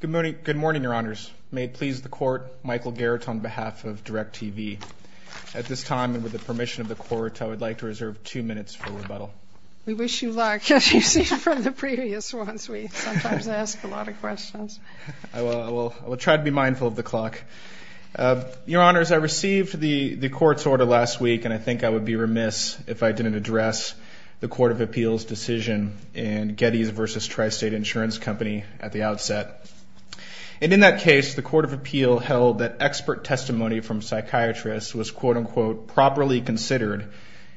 Good morning, Your Honors. May it please the Court, Michael Garrett on behalf of DIRECTV. At this time, and with the permission of the Court, I would like to reserve two minutes for rebuttal. We wish you luck, as you've seen from the previous ones. We sometimes ask a lot of questions. I will try to be mindful of the clock. Your Honors, I received the Court's order last week, and I think I would be remiss if I didn't address the Court of Appeal's testimony at the outset. And in that case, the Court of Appeal held that expert testimony from psychiatrists was quote-unquote properly considered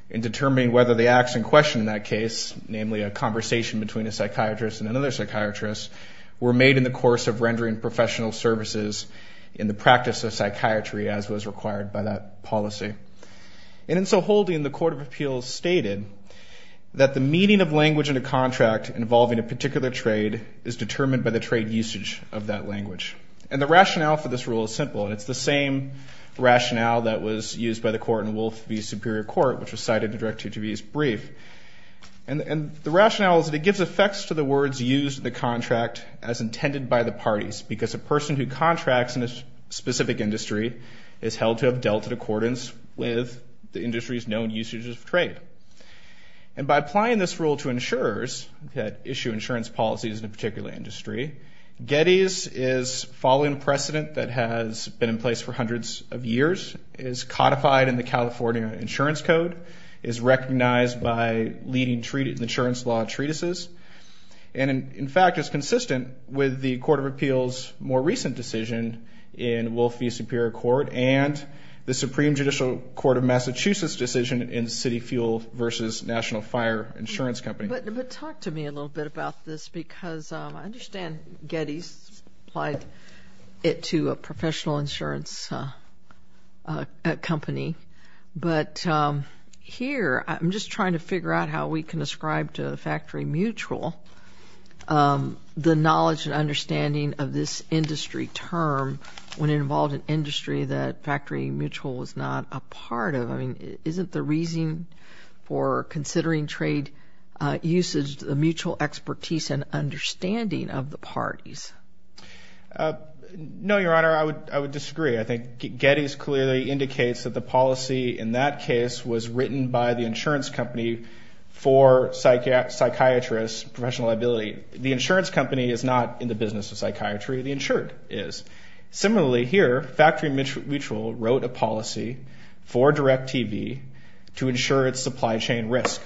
in determining whether the acts in question in that case, namely a conversation between a psychiatrist and another psychiatrist, were made in the course of rendering professional services in the practice of psychiatry as was required by that policy. And in so holding, the Court of Appeal stated that the meaning of language in a contract involving a psychiatrist is determined by the trade usage of that language. And the rationale for this rule is simple, and it's the same rationale that was used by the Court in Wolf v. Superior Court, which was cited in DIRECTV's brief. And the rationale is that it gives effects to the words used in the contract as intended by the parties, because a person who contracts in a specific industry is held to have dealt in accordance with the industry's known usages of trade. And by applying this rule to insurers that issue insurance policies in a particular industry, Getty's is following a precedent that has been in place for hundreds of years, is codified in the California Insurance Code, is recognized by leading insurance law treatises, and in fact is consistent with the Court of Appeal's more recent decision in Wolf v. Superior Court and the Supreme Judicial Court of Massachusetts' decision in City Fuel v. National Fire Insurance Company. But talk to me a little bit about this, because I understand Getty's applied it to a professional insurance company. But here, I'm just trying to figure out how we can ascribe to the factory mutual the knowledge and understanding of this industry term when it involved an usage, the mutual expertise and understanding of the parties. No, Your Honor, I would disagree. I think Getty's clearly indicates that the policy in that case was written by the insurance company for psychiatrists, professional liability. The insurance company is not in the business of psychiatry. The insured is. Similarly, here, factory mutual wrote a policy for DIRECTV to insure its supply chain risk.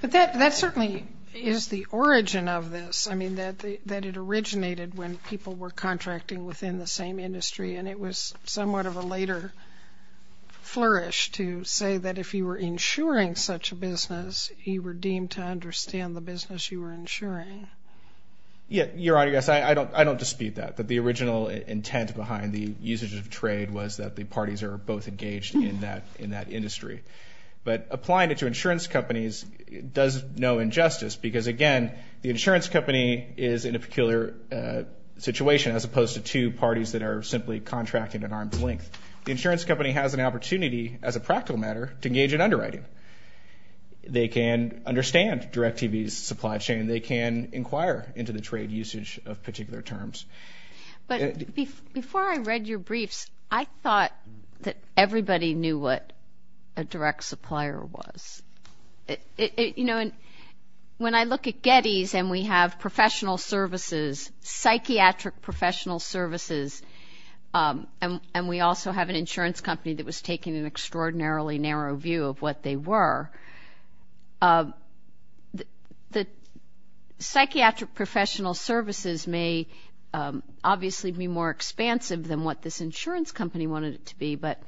But that certainly is the origin of this. I mean, that it originated when people were contracting within the same industry, and it was somewhat of a later flourish to say that if you were insuring such a business, you were deemed to understand the business you were insuring. Yeah, Your Honor, yes, I don't dispute that, that the original intent behind the usage of trade was that the parties are both engaged in that industry. But applying it to insurance companies does no injustice because again, the insurance company is in a peculiar situation as opposed to two parties that are simply contracting at arm's length. The insurance company has an opportunity as a practical matter to engage in underwriting. They can understand DIRECTV's supply chain. They can inquire into the trade usage of particular terms. But before I read your briefs, I thought that everybody knew what a direct supplier was. You know, when I look at Getty's and we have professional services, psychiatric professional services, and we also have an insurance company that was taking an extraordinarily narrow view of what they were, the psychiatric professional services may obviously be more expansive than what this insurance company wanted it to be. But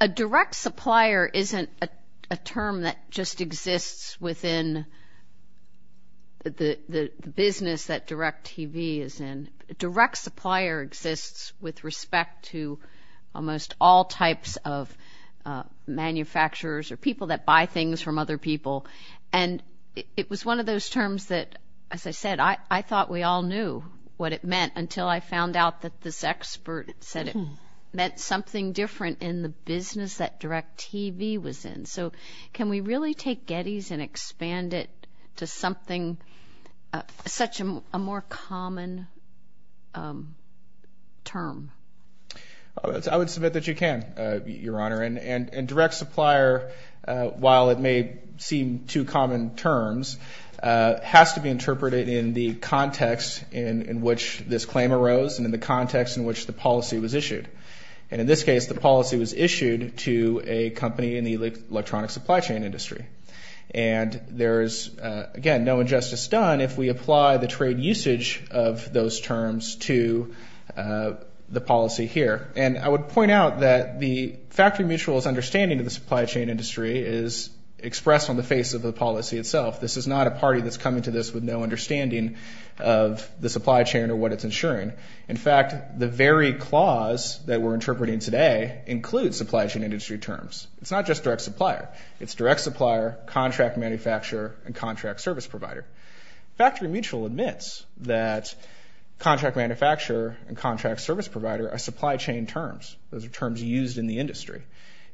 a direct supplier isn't a term that just exists within the business that DIRECTV is in. A direct supplier exists with respect to almost all types of manufacturers or people that buy things from other people. And it was one of those terms that, as I said, I thought we all knew what it meant until I found out that this expert said it meant something different in the business that DIRECTV was in. So can we really take Getty's and expand it to something, such a more common term? I would submit that you can, Your Honor. And direct supplier, while it may seem too common terms, has to be interpreted in the context in which this claim arose and in the context in which the policy was issued. And in this And there is, again, no injustice done if we apply the trade usage of those terms to the policy here. And I would point out that the factory mutual's understanding of the supply chain industry is expressed on the face of the policy itself. This is not a party that's coming to this with no understanding of the supply chain or what it's insuring. In fact, the very clause that we're interpreting today includes supply chain industry terms. It's not just direct supplier. It's direct supplier, contract manufacturer, and contract service provider. Factory mutual admits that contract manufacturer and contract service provider are supply chain terms. Those are terms used in the industry.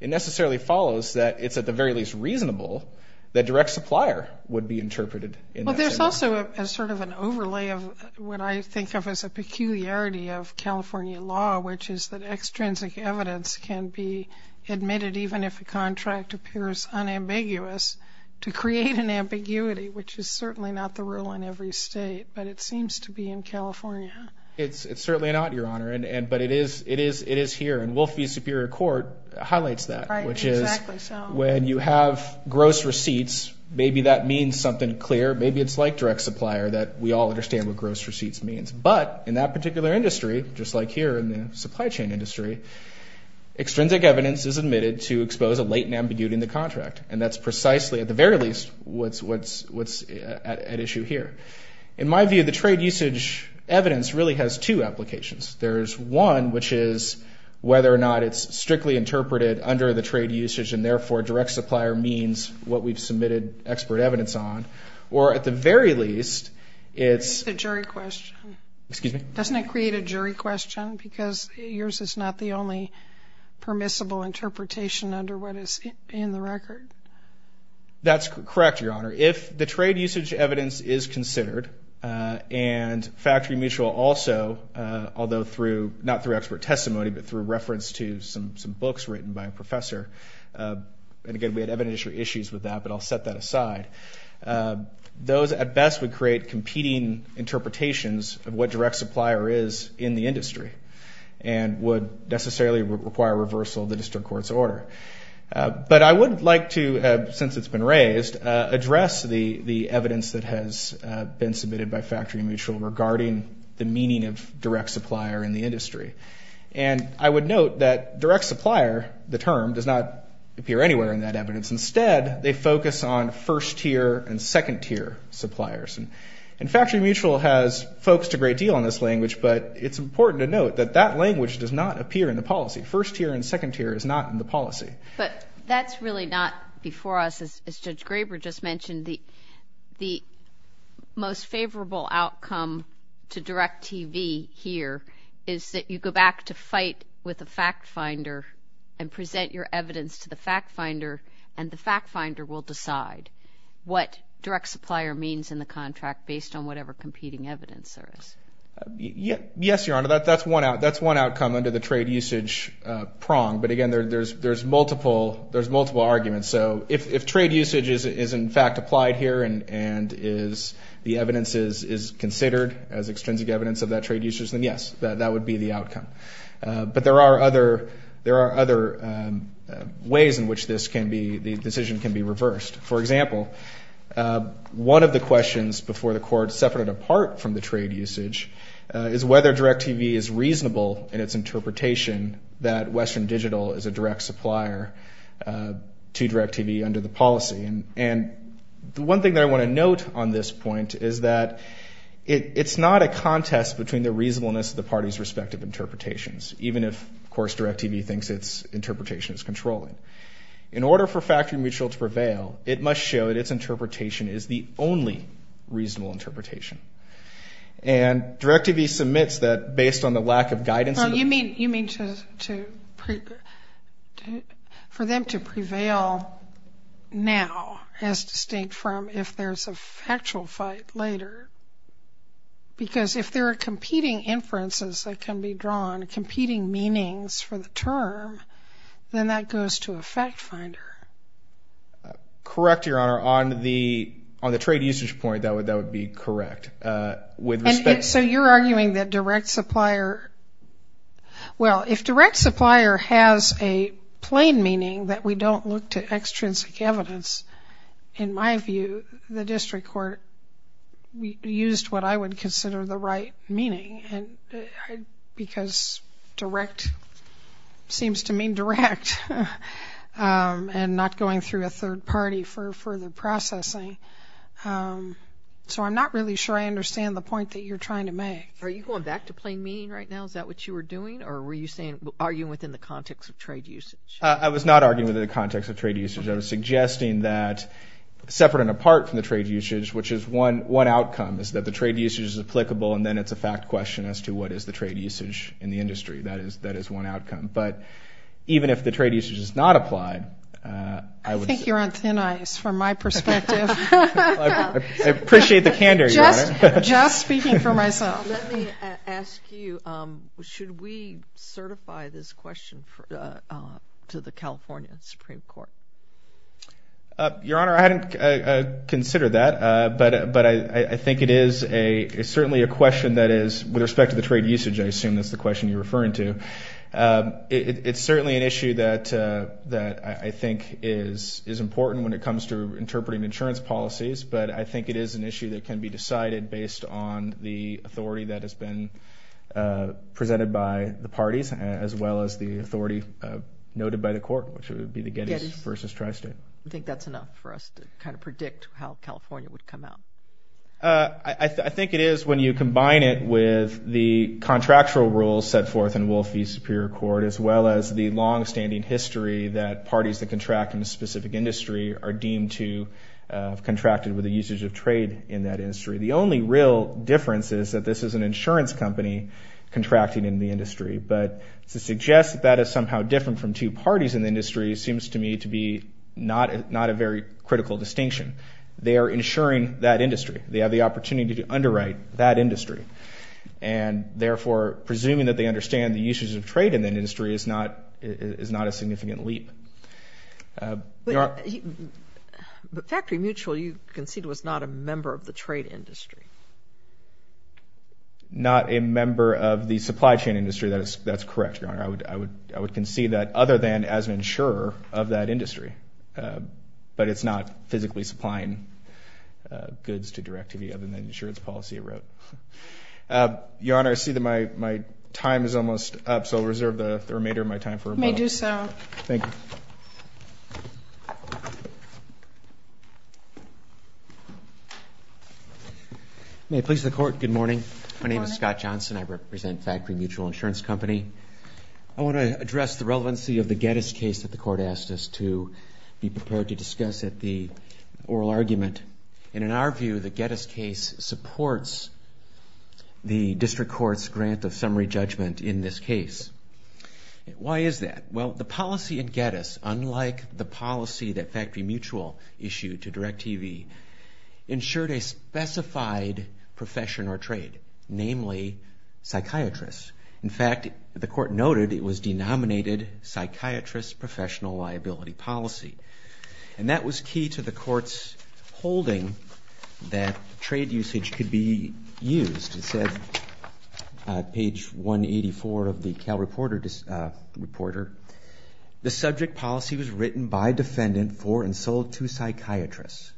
It necessarily follows that it's at the very least reasonable that direct supplier would be interpreted in that same way. Also, as sort of an overlay of what I think of as a peculiarity of California law, which is that extrinsic evidence can be admitted even if a contract appears unambiguous, to create an ambiguity, which is certainly not the rule in every state, but it seems to be in California. It's certainly not, Your Honor. But it is here. And Wolf v. Superior Court highlights that, which is when you have gross receipts, maybe that means something clear. Maybe it's like direct supplier that we all understand what gross receipts means. But in that particular industry, just like here in the supply chain industry, extrinsic evidence is admitted to expose a latent ambiguity in the contract. And that's precisely, at the very least, what's at issue here. In my view, the trade usage evidence really has two applications. There's one, which is whether or not it's strictly interpreted under the trade usage, and therefore, direct supplier means what we've submitted expert evidence on. Or at the very least, it's... It's a jury question. Excuse me? Doesn't it create a jury question? Because yours is not the only permissible interpretation under what is in the record. That's correct, Your Honor. If the trade usage evidence is considered, and factory mutual also, although not through expert testimony, but through reference to some books written by a professor, and again, we had evidentiary issues with that, but I'll set that aside. Those, at best, would create competing interpretations of what direct supplier is in the industry, and would necessarily require reversal of the district court's order. But I would like to, since it's been raised, address the evidence that has been submitted by factory mutual regarding the meaning of direct supplier in the industry. And I would note that direct supplier, the term, does not appear anywhere in that evidence. Instead, they focus on first tier and second tier suppliers. And factory mutual has focused a great deal on this language, but it's important to note that that language does not appear in the policy. First tier and second tier is not in the policy. But that's really not, before us, as Judge Graber just mentioned, the most favorable outcome to Direct TV here is that you go back to fight with the fact finder and present your evidence to the fact finder, and the fact finder will decide what direct supplier means in the contract based on whatever competing evidence there is. Yes, Your Honor, that's one outcome under the trade usage prong. But again, there's multiple arguments. So if trade usage is, in fact, applied here and the evidence is considered as extrinsic evidence of that trade usage, then yes, that would be the outcome. But there are other ways in which the decision can be reversed. For example, one of the questions before the court, separate and apart from the trade usage, is whether Direct TV is reasonable in its interpretation that Western Digital is a direct supplier to Direct TV under the policy. And the one thing that I want to note on this point is that it's not a contest between the reasonableness of the parties' respective interpretations, even if, of course, Direct TV thinks its interpretation is controlling. In order for factory mutual to prevail, it must show that its interpretation is the only reasonable interpretation. And Direct TV submits that based on the lack of guidance. Well, you mean for them to prevail now as distinct from if there's a factual fight later? Because if there are competing inferences that can be Correct, Your Honor. On the trade usage point, that would be correct. And so you're arguing that direct supplier, well, if direct supplier has a plain meaning that we don't look to extrinsic evidence, in my view, the and not going through a third party for further processing. So I'm not really sure I understand the point that you're trying to make. Are you going back to plain meaning right now? Is that what you were doing? Or were you saying, arguing within the context of trade usage? I was not arguing within the context of trade usage. I was suggesting that separate and apart from the trade usage, which is one outcome, is that the trade usage is applicable, and then it's a fact question as to what is the trade usage in the industry. That is one outcome. But even if the trade usage is not applied, I would say. I think you're on thin ice from my perspective. I appreciate the candor, Your Honor. Just speaking for myself. Let me ask you, should we certify this question to the California Supreme Court? Your Honor, I hadn't considered that, but I think it is certainly a question you're referring to. It's certainly an issue that I think is important when it comes to interpreting insurance policies, but I think it is an issue that can be decided based on the authority that has been presented by the parties, as well as the authority noted by the court, which would be the Gettys versus Tri-State. I think that's enough for us to kind of predict how California would come out. I think it is when you combine it with the contractual rules set forth in Wolf v. Superior Court, as well as the long-standing history that parties that contract in a specific industry are deemed to have contracted with the usage of trade in that industry. The only real difference is that this is an insurance company contracting in the industry. But to suggest that that is somehow different from two parties in the industry seems to me to be not a very critical distinction. They are insuring that industry, and therefore, presuming that they understand the usage of trade in that industry is not a significant leap. But Factory Mutual you concede was not a member of the trade industry? Not a member of the supply chain industry. That's correct, Your Honor. I would concede that other than as an insurer of that industry. But it's not Your Honor, I see that my time is almost up, so I'll reserve the remainder of my time for a moment. You may do so. Thank you. May it please the Court, good morning. My name is Scott Johnson. I represent Factory Mutual Insurance Company. I want to address the relevancy of the Geddes case supports the District Court's grant of summary judgment in this case. Why is that? Well, the policy in Geddes, unlike the policy that Factory Mutual issued to DIRECTV, ensured a specified profession or trade, namely, psychiatrists. In fact, the Court noted it was denominated psychiatrist professional liability policy. And that was key to the Court's holding that trade usage could be used. It said, page 184 of the Cal Reporter, the subject policy was written by defendant for and sold to psychiatrists.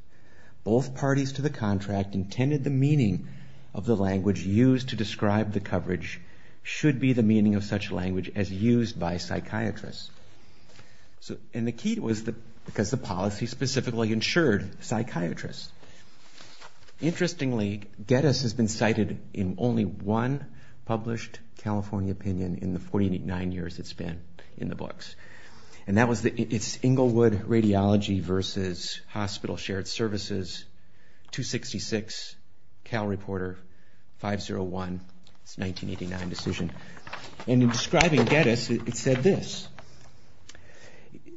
Both parties to the contract intended the meaning of the language used to And the key was because the policy specifically insured psychiatrists. Interestingly, Geddes has been cited in only one published California opinion in the 49 years it's been in the books. And that was, it's Englewood Radiology versus Hospital Shared Services, 266, Cal Reporter, 501, it's a 1989 decision. And in describing Geddes, it said this,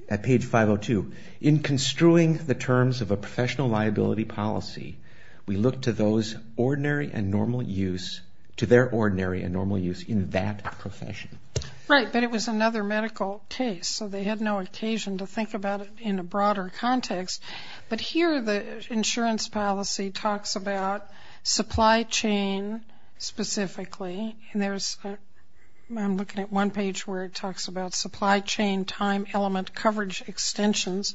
at page 502, in construing the terms of a professional liability policy, we look to those ordinary and normal use, to their ordinary and normal use in that profession. Right, but it was another medical case, so they had no occasion to think about it in a broader context. But here the insurance policy talks about supply chain specifically. And there's, I'm looking at one page where it talks about supply chain time element coverage extensions.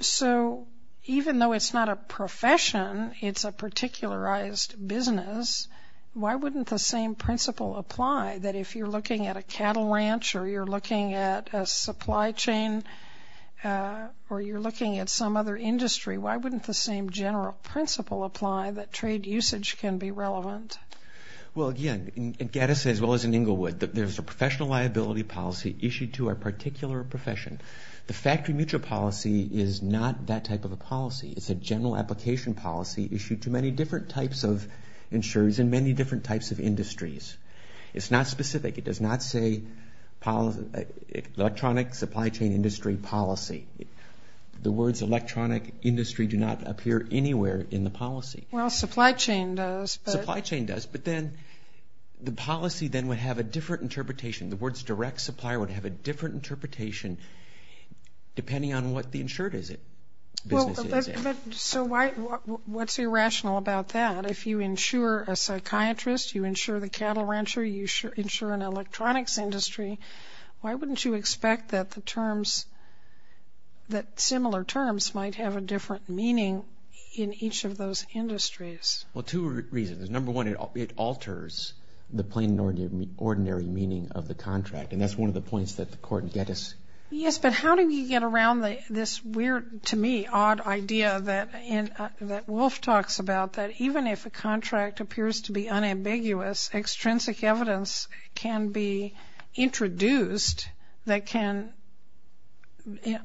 So even though it's not a profession, it's a particularized business, why wouldn't the same principle apply that if you're looking at a or you're looking at some other industry, why wouldn't the same general principle apply that trade usage can be relevant? Well, again, in Geddes as well as in Englewood, there's a professional liability policy issued to a particular profession. The factory mutual policy is not that type of a policy. It's a general application policy issued to many different types of insurers in many different types of industries. It's not specific. It does not say electronic supply chain industry policy. The words electronic industry do not appear anywhere in the policy. Well, supply chain does. Supply chain does, but then the policy then would have a different interpretation. The words direct supplier would have a different interpretation depending on what the insured business is. But so why, what's irrational about that? If you insure a psychiatrist, you insure the cattle rancher, you insure an electronics industry, why wouldn't you expect that the terms, that similar terms might have a different meaning in each of those industries? Well, two reasons. Number one, it alters the plain and ordinary meaning of the contract. And that's one of the points that the court in Geddes. Yes, but how do you get around this weird, to me, odd idea that Wolf talks about that even if a contract appears to be unambiguous, extrinsic evidence can be introduced that can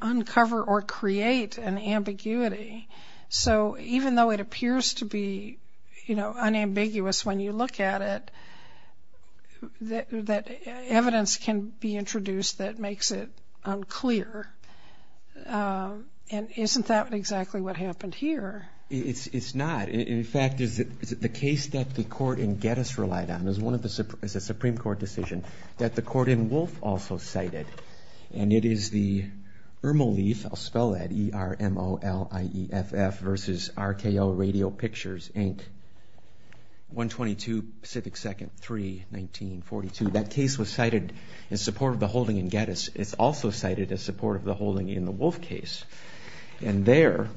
uncover or create an ambiguity. So even though it appears to be unambiguous when you look at it, that evidence can be introduced that makes it unclear. And isn't that exactly what happened here? It's not. In fact, the case that the court in Geddes relied on is a Supreme Court decision that the court in Wolf also cited. And it is the Ermolief, I'll spell that, E-R-M-O-L-I-E-F-F versus RKO Radio Pictures, Inc. 122 Pacific Second 3, 1942. That case was cited in support of the holding in Geddes. It's also cited as support of the holding in the Wolf case. And there,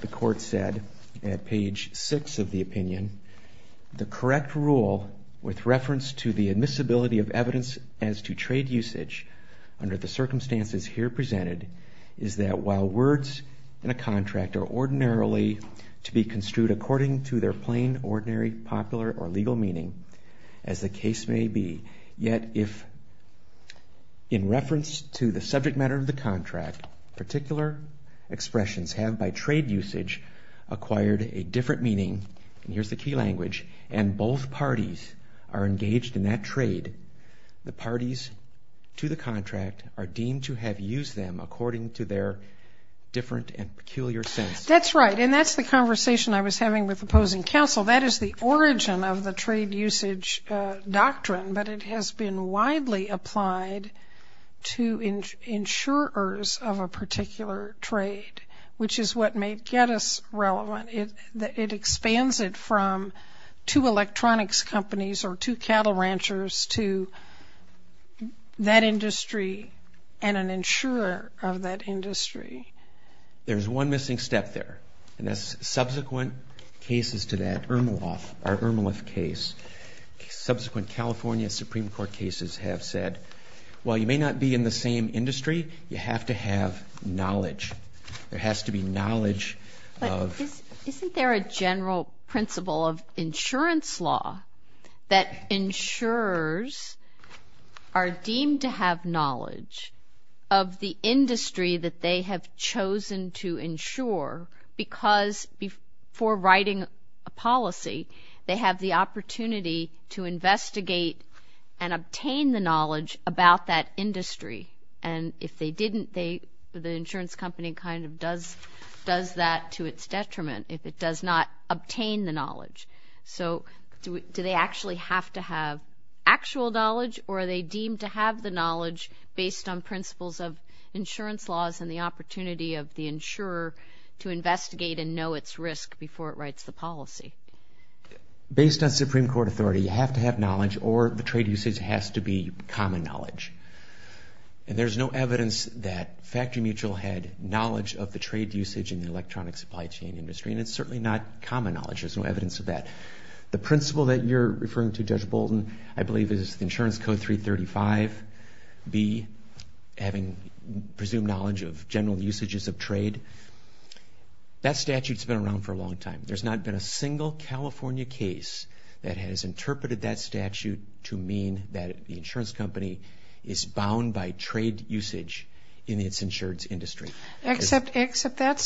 the court said at page six of the opinion, the correct rule with reference to the admissibility of evidence as to trade usage under the circumstances here presented is that while words in a contract are ordinarily to be construed according to their plain, ordinary, popular, or legal meaning, as the case may be, yet if in reference to the subject matter of the contract, particular expressions have by trade usage acquired a different meaning, and here's the key language, and both parties are engaged in that trade, the parties to the contract are deemed to have used them according to their different and peculiar sense. That's right, and that's the conversation I was having with opposing counsel. That is the origin of the trade usage doctrine, but it has been widely applied to insurers of a particular trade, which is what made Geddes relevant. It expands it from two electronics companies or two cattle ranchers to that industry and an insurer of that industry. There's one missing step there, and that's subsequent cases to that. Ermolov, our Ermolov case, subsequent California Supreme Court cases have said, while you may not be in the same industry, you have to have knowledge. There has to be knowledge of... But isn't there a general principle of insurance law that insurers are deemed to have knowledge of the industry that they have chosen to insure because before writing a policy, they have the opportunity to investigate and obtain the knowledge about that industry, and if they didn't, the insurance company kind of does that to its detriment if it does not obtain the knowledge. So do they actually have to have actual knowledge, or are they deemed to have the knowledge based on principles of insurance laws and the opportunity of the insurer to investigate and know its risk before it writes the policy? Based on Supreme Court authority, you have to have knowledge, or the trade usage has to be common knowledge. And there's no evidence that Factory Mutual had knowledge of the trade usage in the electronic supply chain industry, and it's certainly not common knowledge. There's no evidence of that. The principle that you're referring to, Judge Bolton, I believe is Insurance Code 335B, having presumed knowledge of general usages of trade. That statute's been around for a long time. There's not been a single California case that has interpreted that statute to mean that the insurance company is bound by trade usage in its insurance industry. Except that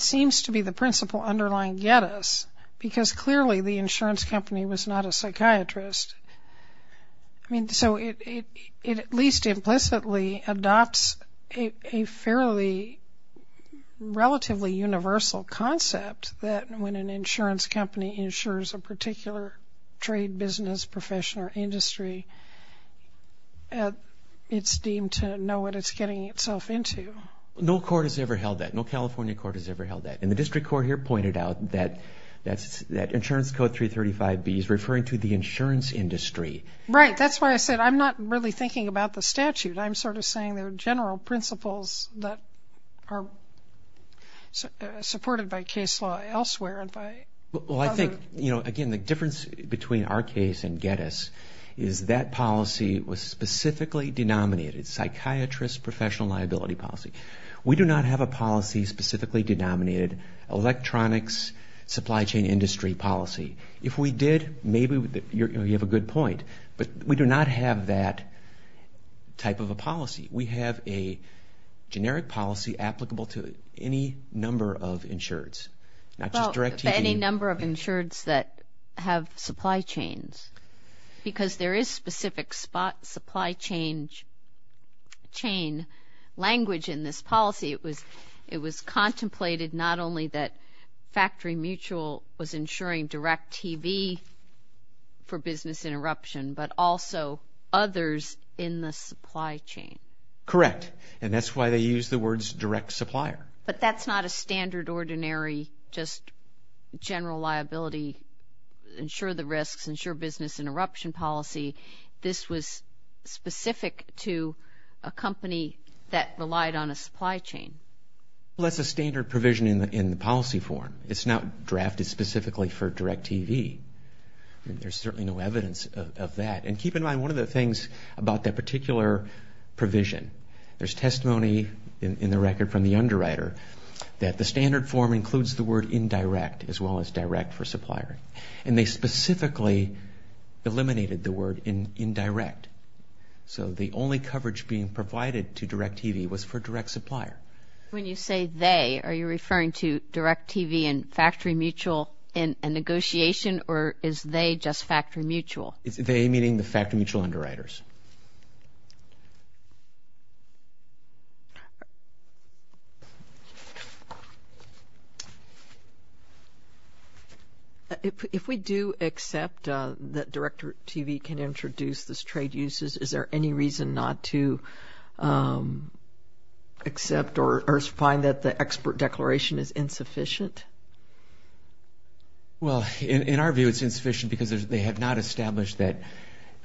seems to be the principle underlying Gettys, because clearly the insurance company was not a psychiatrist. I mean, so it at least implicitly adopts a fairly relatively universal concept that when an insurance company insures a particular trade, business, profession, or industry, it's deemed to know what it's getting itself into. No court has ever held that. No California court has ever held that. And the district court here pointed out that Insurance Code 335B is referring to the insurance industry. Right. That's why I said I'm not really thinking about the statute. I'm sort of saying there are general principles that are supported by case law elsewhere. Well, I think, you know, again, the difference between our case and Gettys is that policy was specifically denominated psychiatrist professional liability policy. We do not have a policy specifically denominated electronics supply chain industry policy. If we did, maybe you have a good point, but we do not have that type of a policy. We have a generic policy applicable to any number of insureds, not just direct TV. Any number of insureds that have supply chains, because there is specific supply chain language in this policy. It was contemplated not only that Factory Mutual was insuring direct TV for business interruption, but also others in the supply chain. Correct. And that's why they use the words direct supplier. But that's not a standard, ordinary, just general liability, insure the risks, insure business interruption policy. This was specific to a company that relied on a supply chain. Well, that's a standard provision in the policy form. It's not drafted specifically for direct TV. There's certainly no evidence of that. And keep in mind, one of the things about that particular provision, there's testimony in the record from the underwriter that the standard form includes the word indirect as well as direct for supplier. And they specifically eliminated the word indirect. So the only coverage being provided to direct TV was for direct supplier. When you say they, are you referring to direct TV and Factory Mutual in a negotiation, or is they just Factory Mutual? It's they, meaning the Factory Mutual underwriters. If we do accept that direct TV can introduce this trade uses, is there any reason not to accept or find that the expert declaration is insufficient? Well, in our view, it's insufficient because they have not established that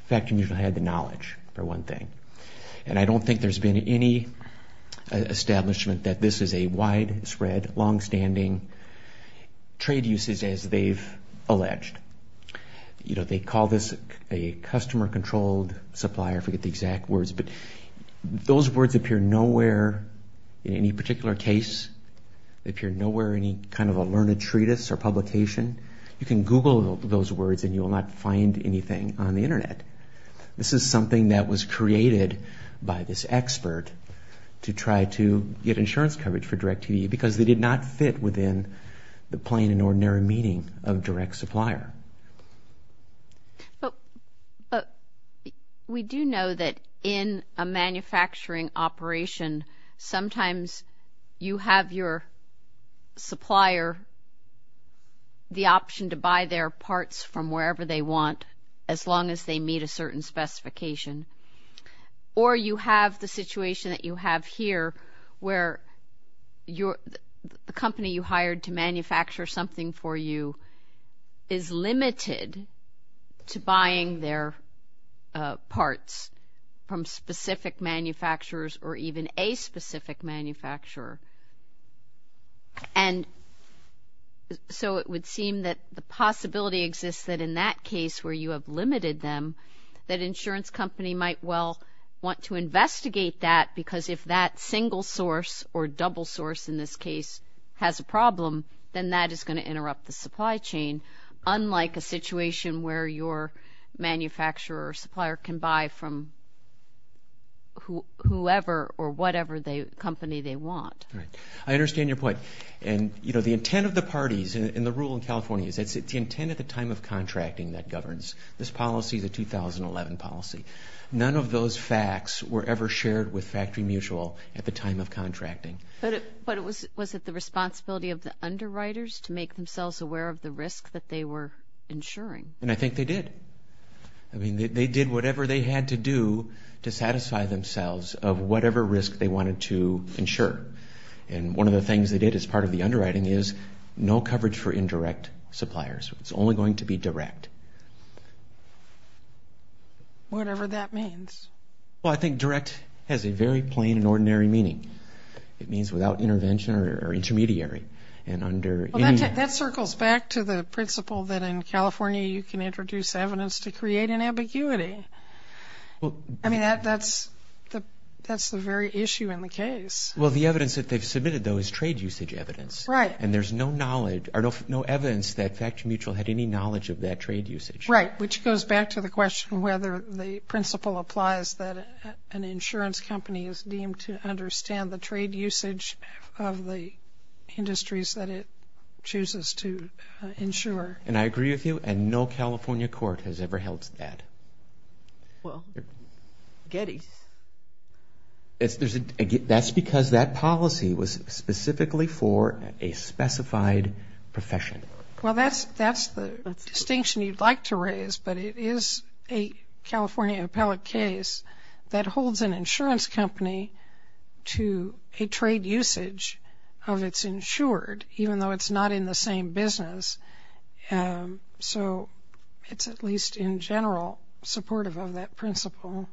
Factory Mutual had the knowledge, for one thing. And I don't think there's been any establishment that this is a widespread, longstanding trade uses as they've alleged. You know, they call this a customer-controlled supplier. I forget the exact words. But those words appear nowhere in any particular case. They appear nowhere in any kind of a learned treatise or publication. You can Google those words and you will not find anything on the Internet. This is something that was created by this expert to try to get insurance coverage for direct TV because they did not fit within the plain and ordinary meaning of direct supplier. But we do know that in a manufacturing operation, sometimes you have your supplier the option to buy their parts from wherever they want, as long as they meet a certain specification. Or you have the situation that you have here where the company you hired to manufacture something for you is limited to buying their parts from specific manufacturers or even a specific manufacturer. And so it would seem that the possibility exists that in that case where you have limited them, that insurance company might well want to investigate that because if that single source or double source in this case has a problem, then that is going to interrupt the supply chain, unlike a situation where your manufacturer or supplier can buy from whoever or whatever company they want. I understand your point. And, you know, the intent of the parties and the rule in California is it's the intent at the time of contracting that governs. This policy is a 2011 policy. None of those facts were ever shared with Factory Mutual at the time of contracting. But was it the responsibility of the underwriters to make themselves aware of the risk that they were insuring? And I think they did. I mean, they did whatever they had to do to satisfy themselves of whatever risk they wanted to insure. And one of the things they did as part of the underwriting is no coverage for indirect suppliers. It's only going to be direct. Whatever that means. Well, I think direct has a very plain and ordinary meaning. It means without intervention or intermediary. That circles back to the principle that in California you can introduce evidence to create an ambiguity. I mean, that's the very issue in the case. Well, the evidence that they've submitted, though, is trade usage evidence. Right. And there's no knowledge or no evidence that Factory Mutual had any knowledge of that trade usage. Right, which goes back to the question whether the principle applies that an insurance company is deemed to understand the trade usage of the industries that it chooses to insure. And I agree with you. And no California court has ever held that. Well, Getty. That's because that policy was specifically for a specified profession. Well, that's the distinction you'd like to raise. But it is a California appellate case that holds an insurance company to a trade usage of its insured, even though it's not in the same business. So it's at least in general supportive of that principle.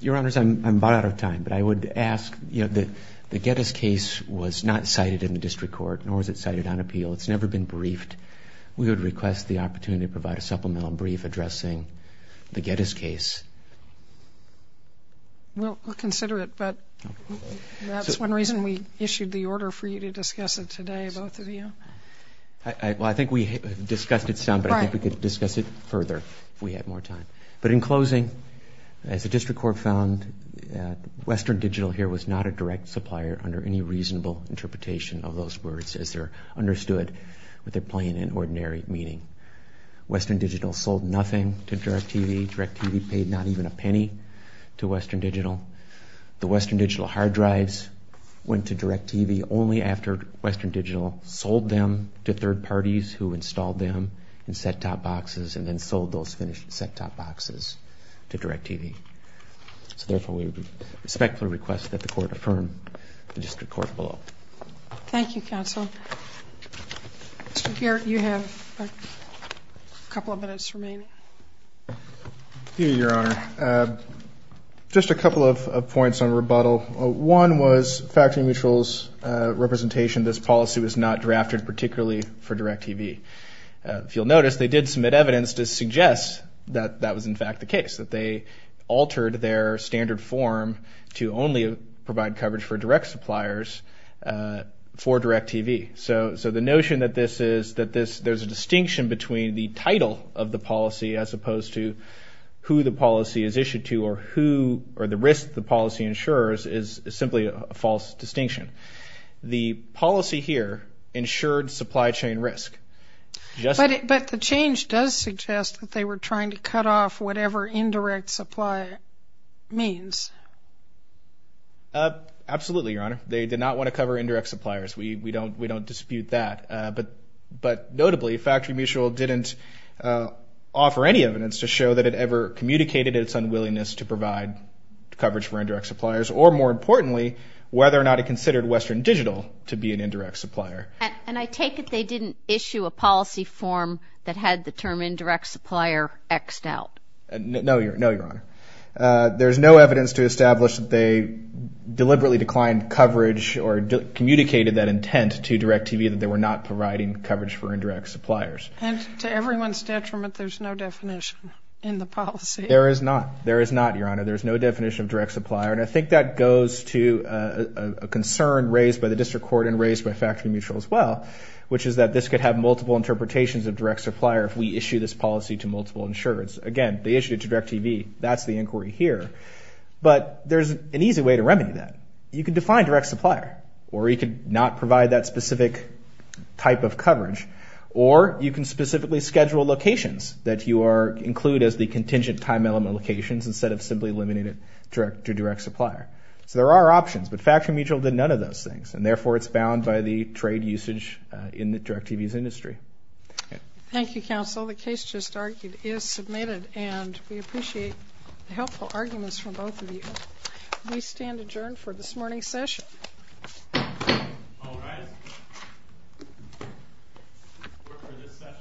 Your Honors, I'm about out of time, but I would ask, you know, the Getty's case was not cited in the district court, nor was it cited on appeal. It's never been briefed. We would request the opportunity to provide a supplemental brief addressing the Getty's case. We'll consider it. But that's one reason we issued the order for you to discuss it today, both of you. Well, I think we discussed it some, but I think we could discuss it further if we had more time. But in closing, as the district court found, Western Digital here was not a direct supplier under any reasonable interpretation of those words, as they're understood with their plain and ordinary meaning. Western Digital sold nothing to DirecTV. DirecTV paid not even a penny to Western Digital. The Western Digital hard drives went to DirecTV only after Western Digital sold them to third parties who installed them in set-top boxes and then sold those finished set-top boxes to DirecTV. So therefore, we respectfully request that the court affirm the district court vote. Thank you, counsel. Mr. Garrett, you have a couple of minutes remaining. Thank you, Your Honor. Just a couple of points on rebuttal. One was Factory Mutual's representation. This policy was not drafted particularly for DirecTV. If you'll notice, they did submit evidence to suggest that that was, in fact, the case, that they altered their standard form to only provide coverage for direct suppliers for DirecTV. So the notion that there's a distinction between the title of the policy as opposed to who the policy is issued to or the risk the policy insures is simply a false distinction. The policy here insured supply chain risk. But the change does suggest that they were trying to cut off whatever indirect supply means. Absolutely, Your Honor. They did not want to cover indirect suppliers. We don't dispute that. But notably, Factory Mutual didn't offer any evidence to show that it ever communicated its unwillingness to provide coverage for indirect suppliers or, more importantly, whether or not it considered Western Digital to be an indirect supplier. And I take it they didn't issue a policy form that had the term indirect supplier X'd out. No, Your Honor. There's no evidence to establish that they deliberately declined coverage or communicated that intent to DirecTV that they were not providing coverage for indirect suppliers. And to everyone's detriment, there's no definition in the policy. There is not. There is not, Your Honor. There is no definition of direct supplier. And I think that goes to a concern raised by the District Court and raised by Factory Mutual as well, which is that this could have multiple interpretations of direct supplier if we issue this policy to multiple insurers. Again, they issued it to DirecTV. That's the inquiry here. But there's an easy way to remedy that. You could define direct supplier, or you could not provide that specific type of coverage, or you can specifically schedule locations that you include as the contingent time element locations instead of simply eliminating it to direct supplier. So there are options, but Factory Mutual did none of those things, and therefore it's bound by the trade usage in the DirecTV's industry. Thank you, counsel. The case just argued is submitted, and we appreciate the helpful arguments from both of you. We stand adjourned for this morning's session. All rise.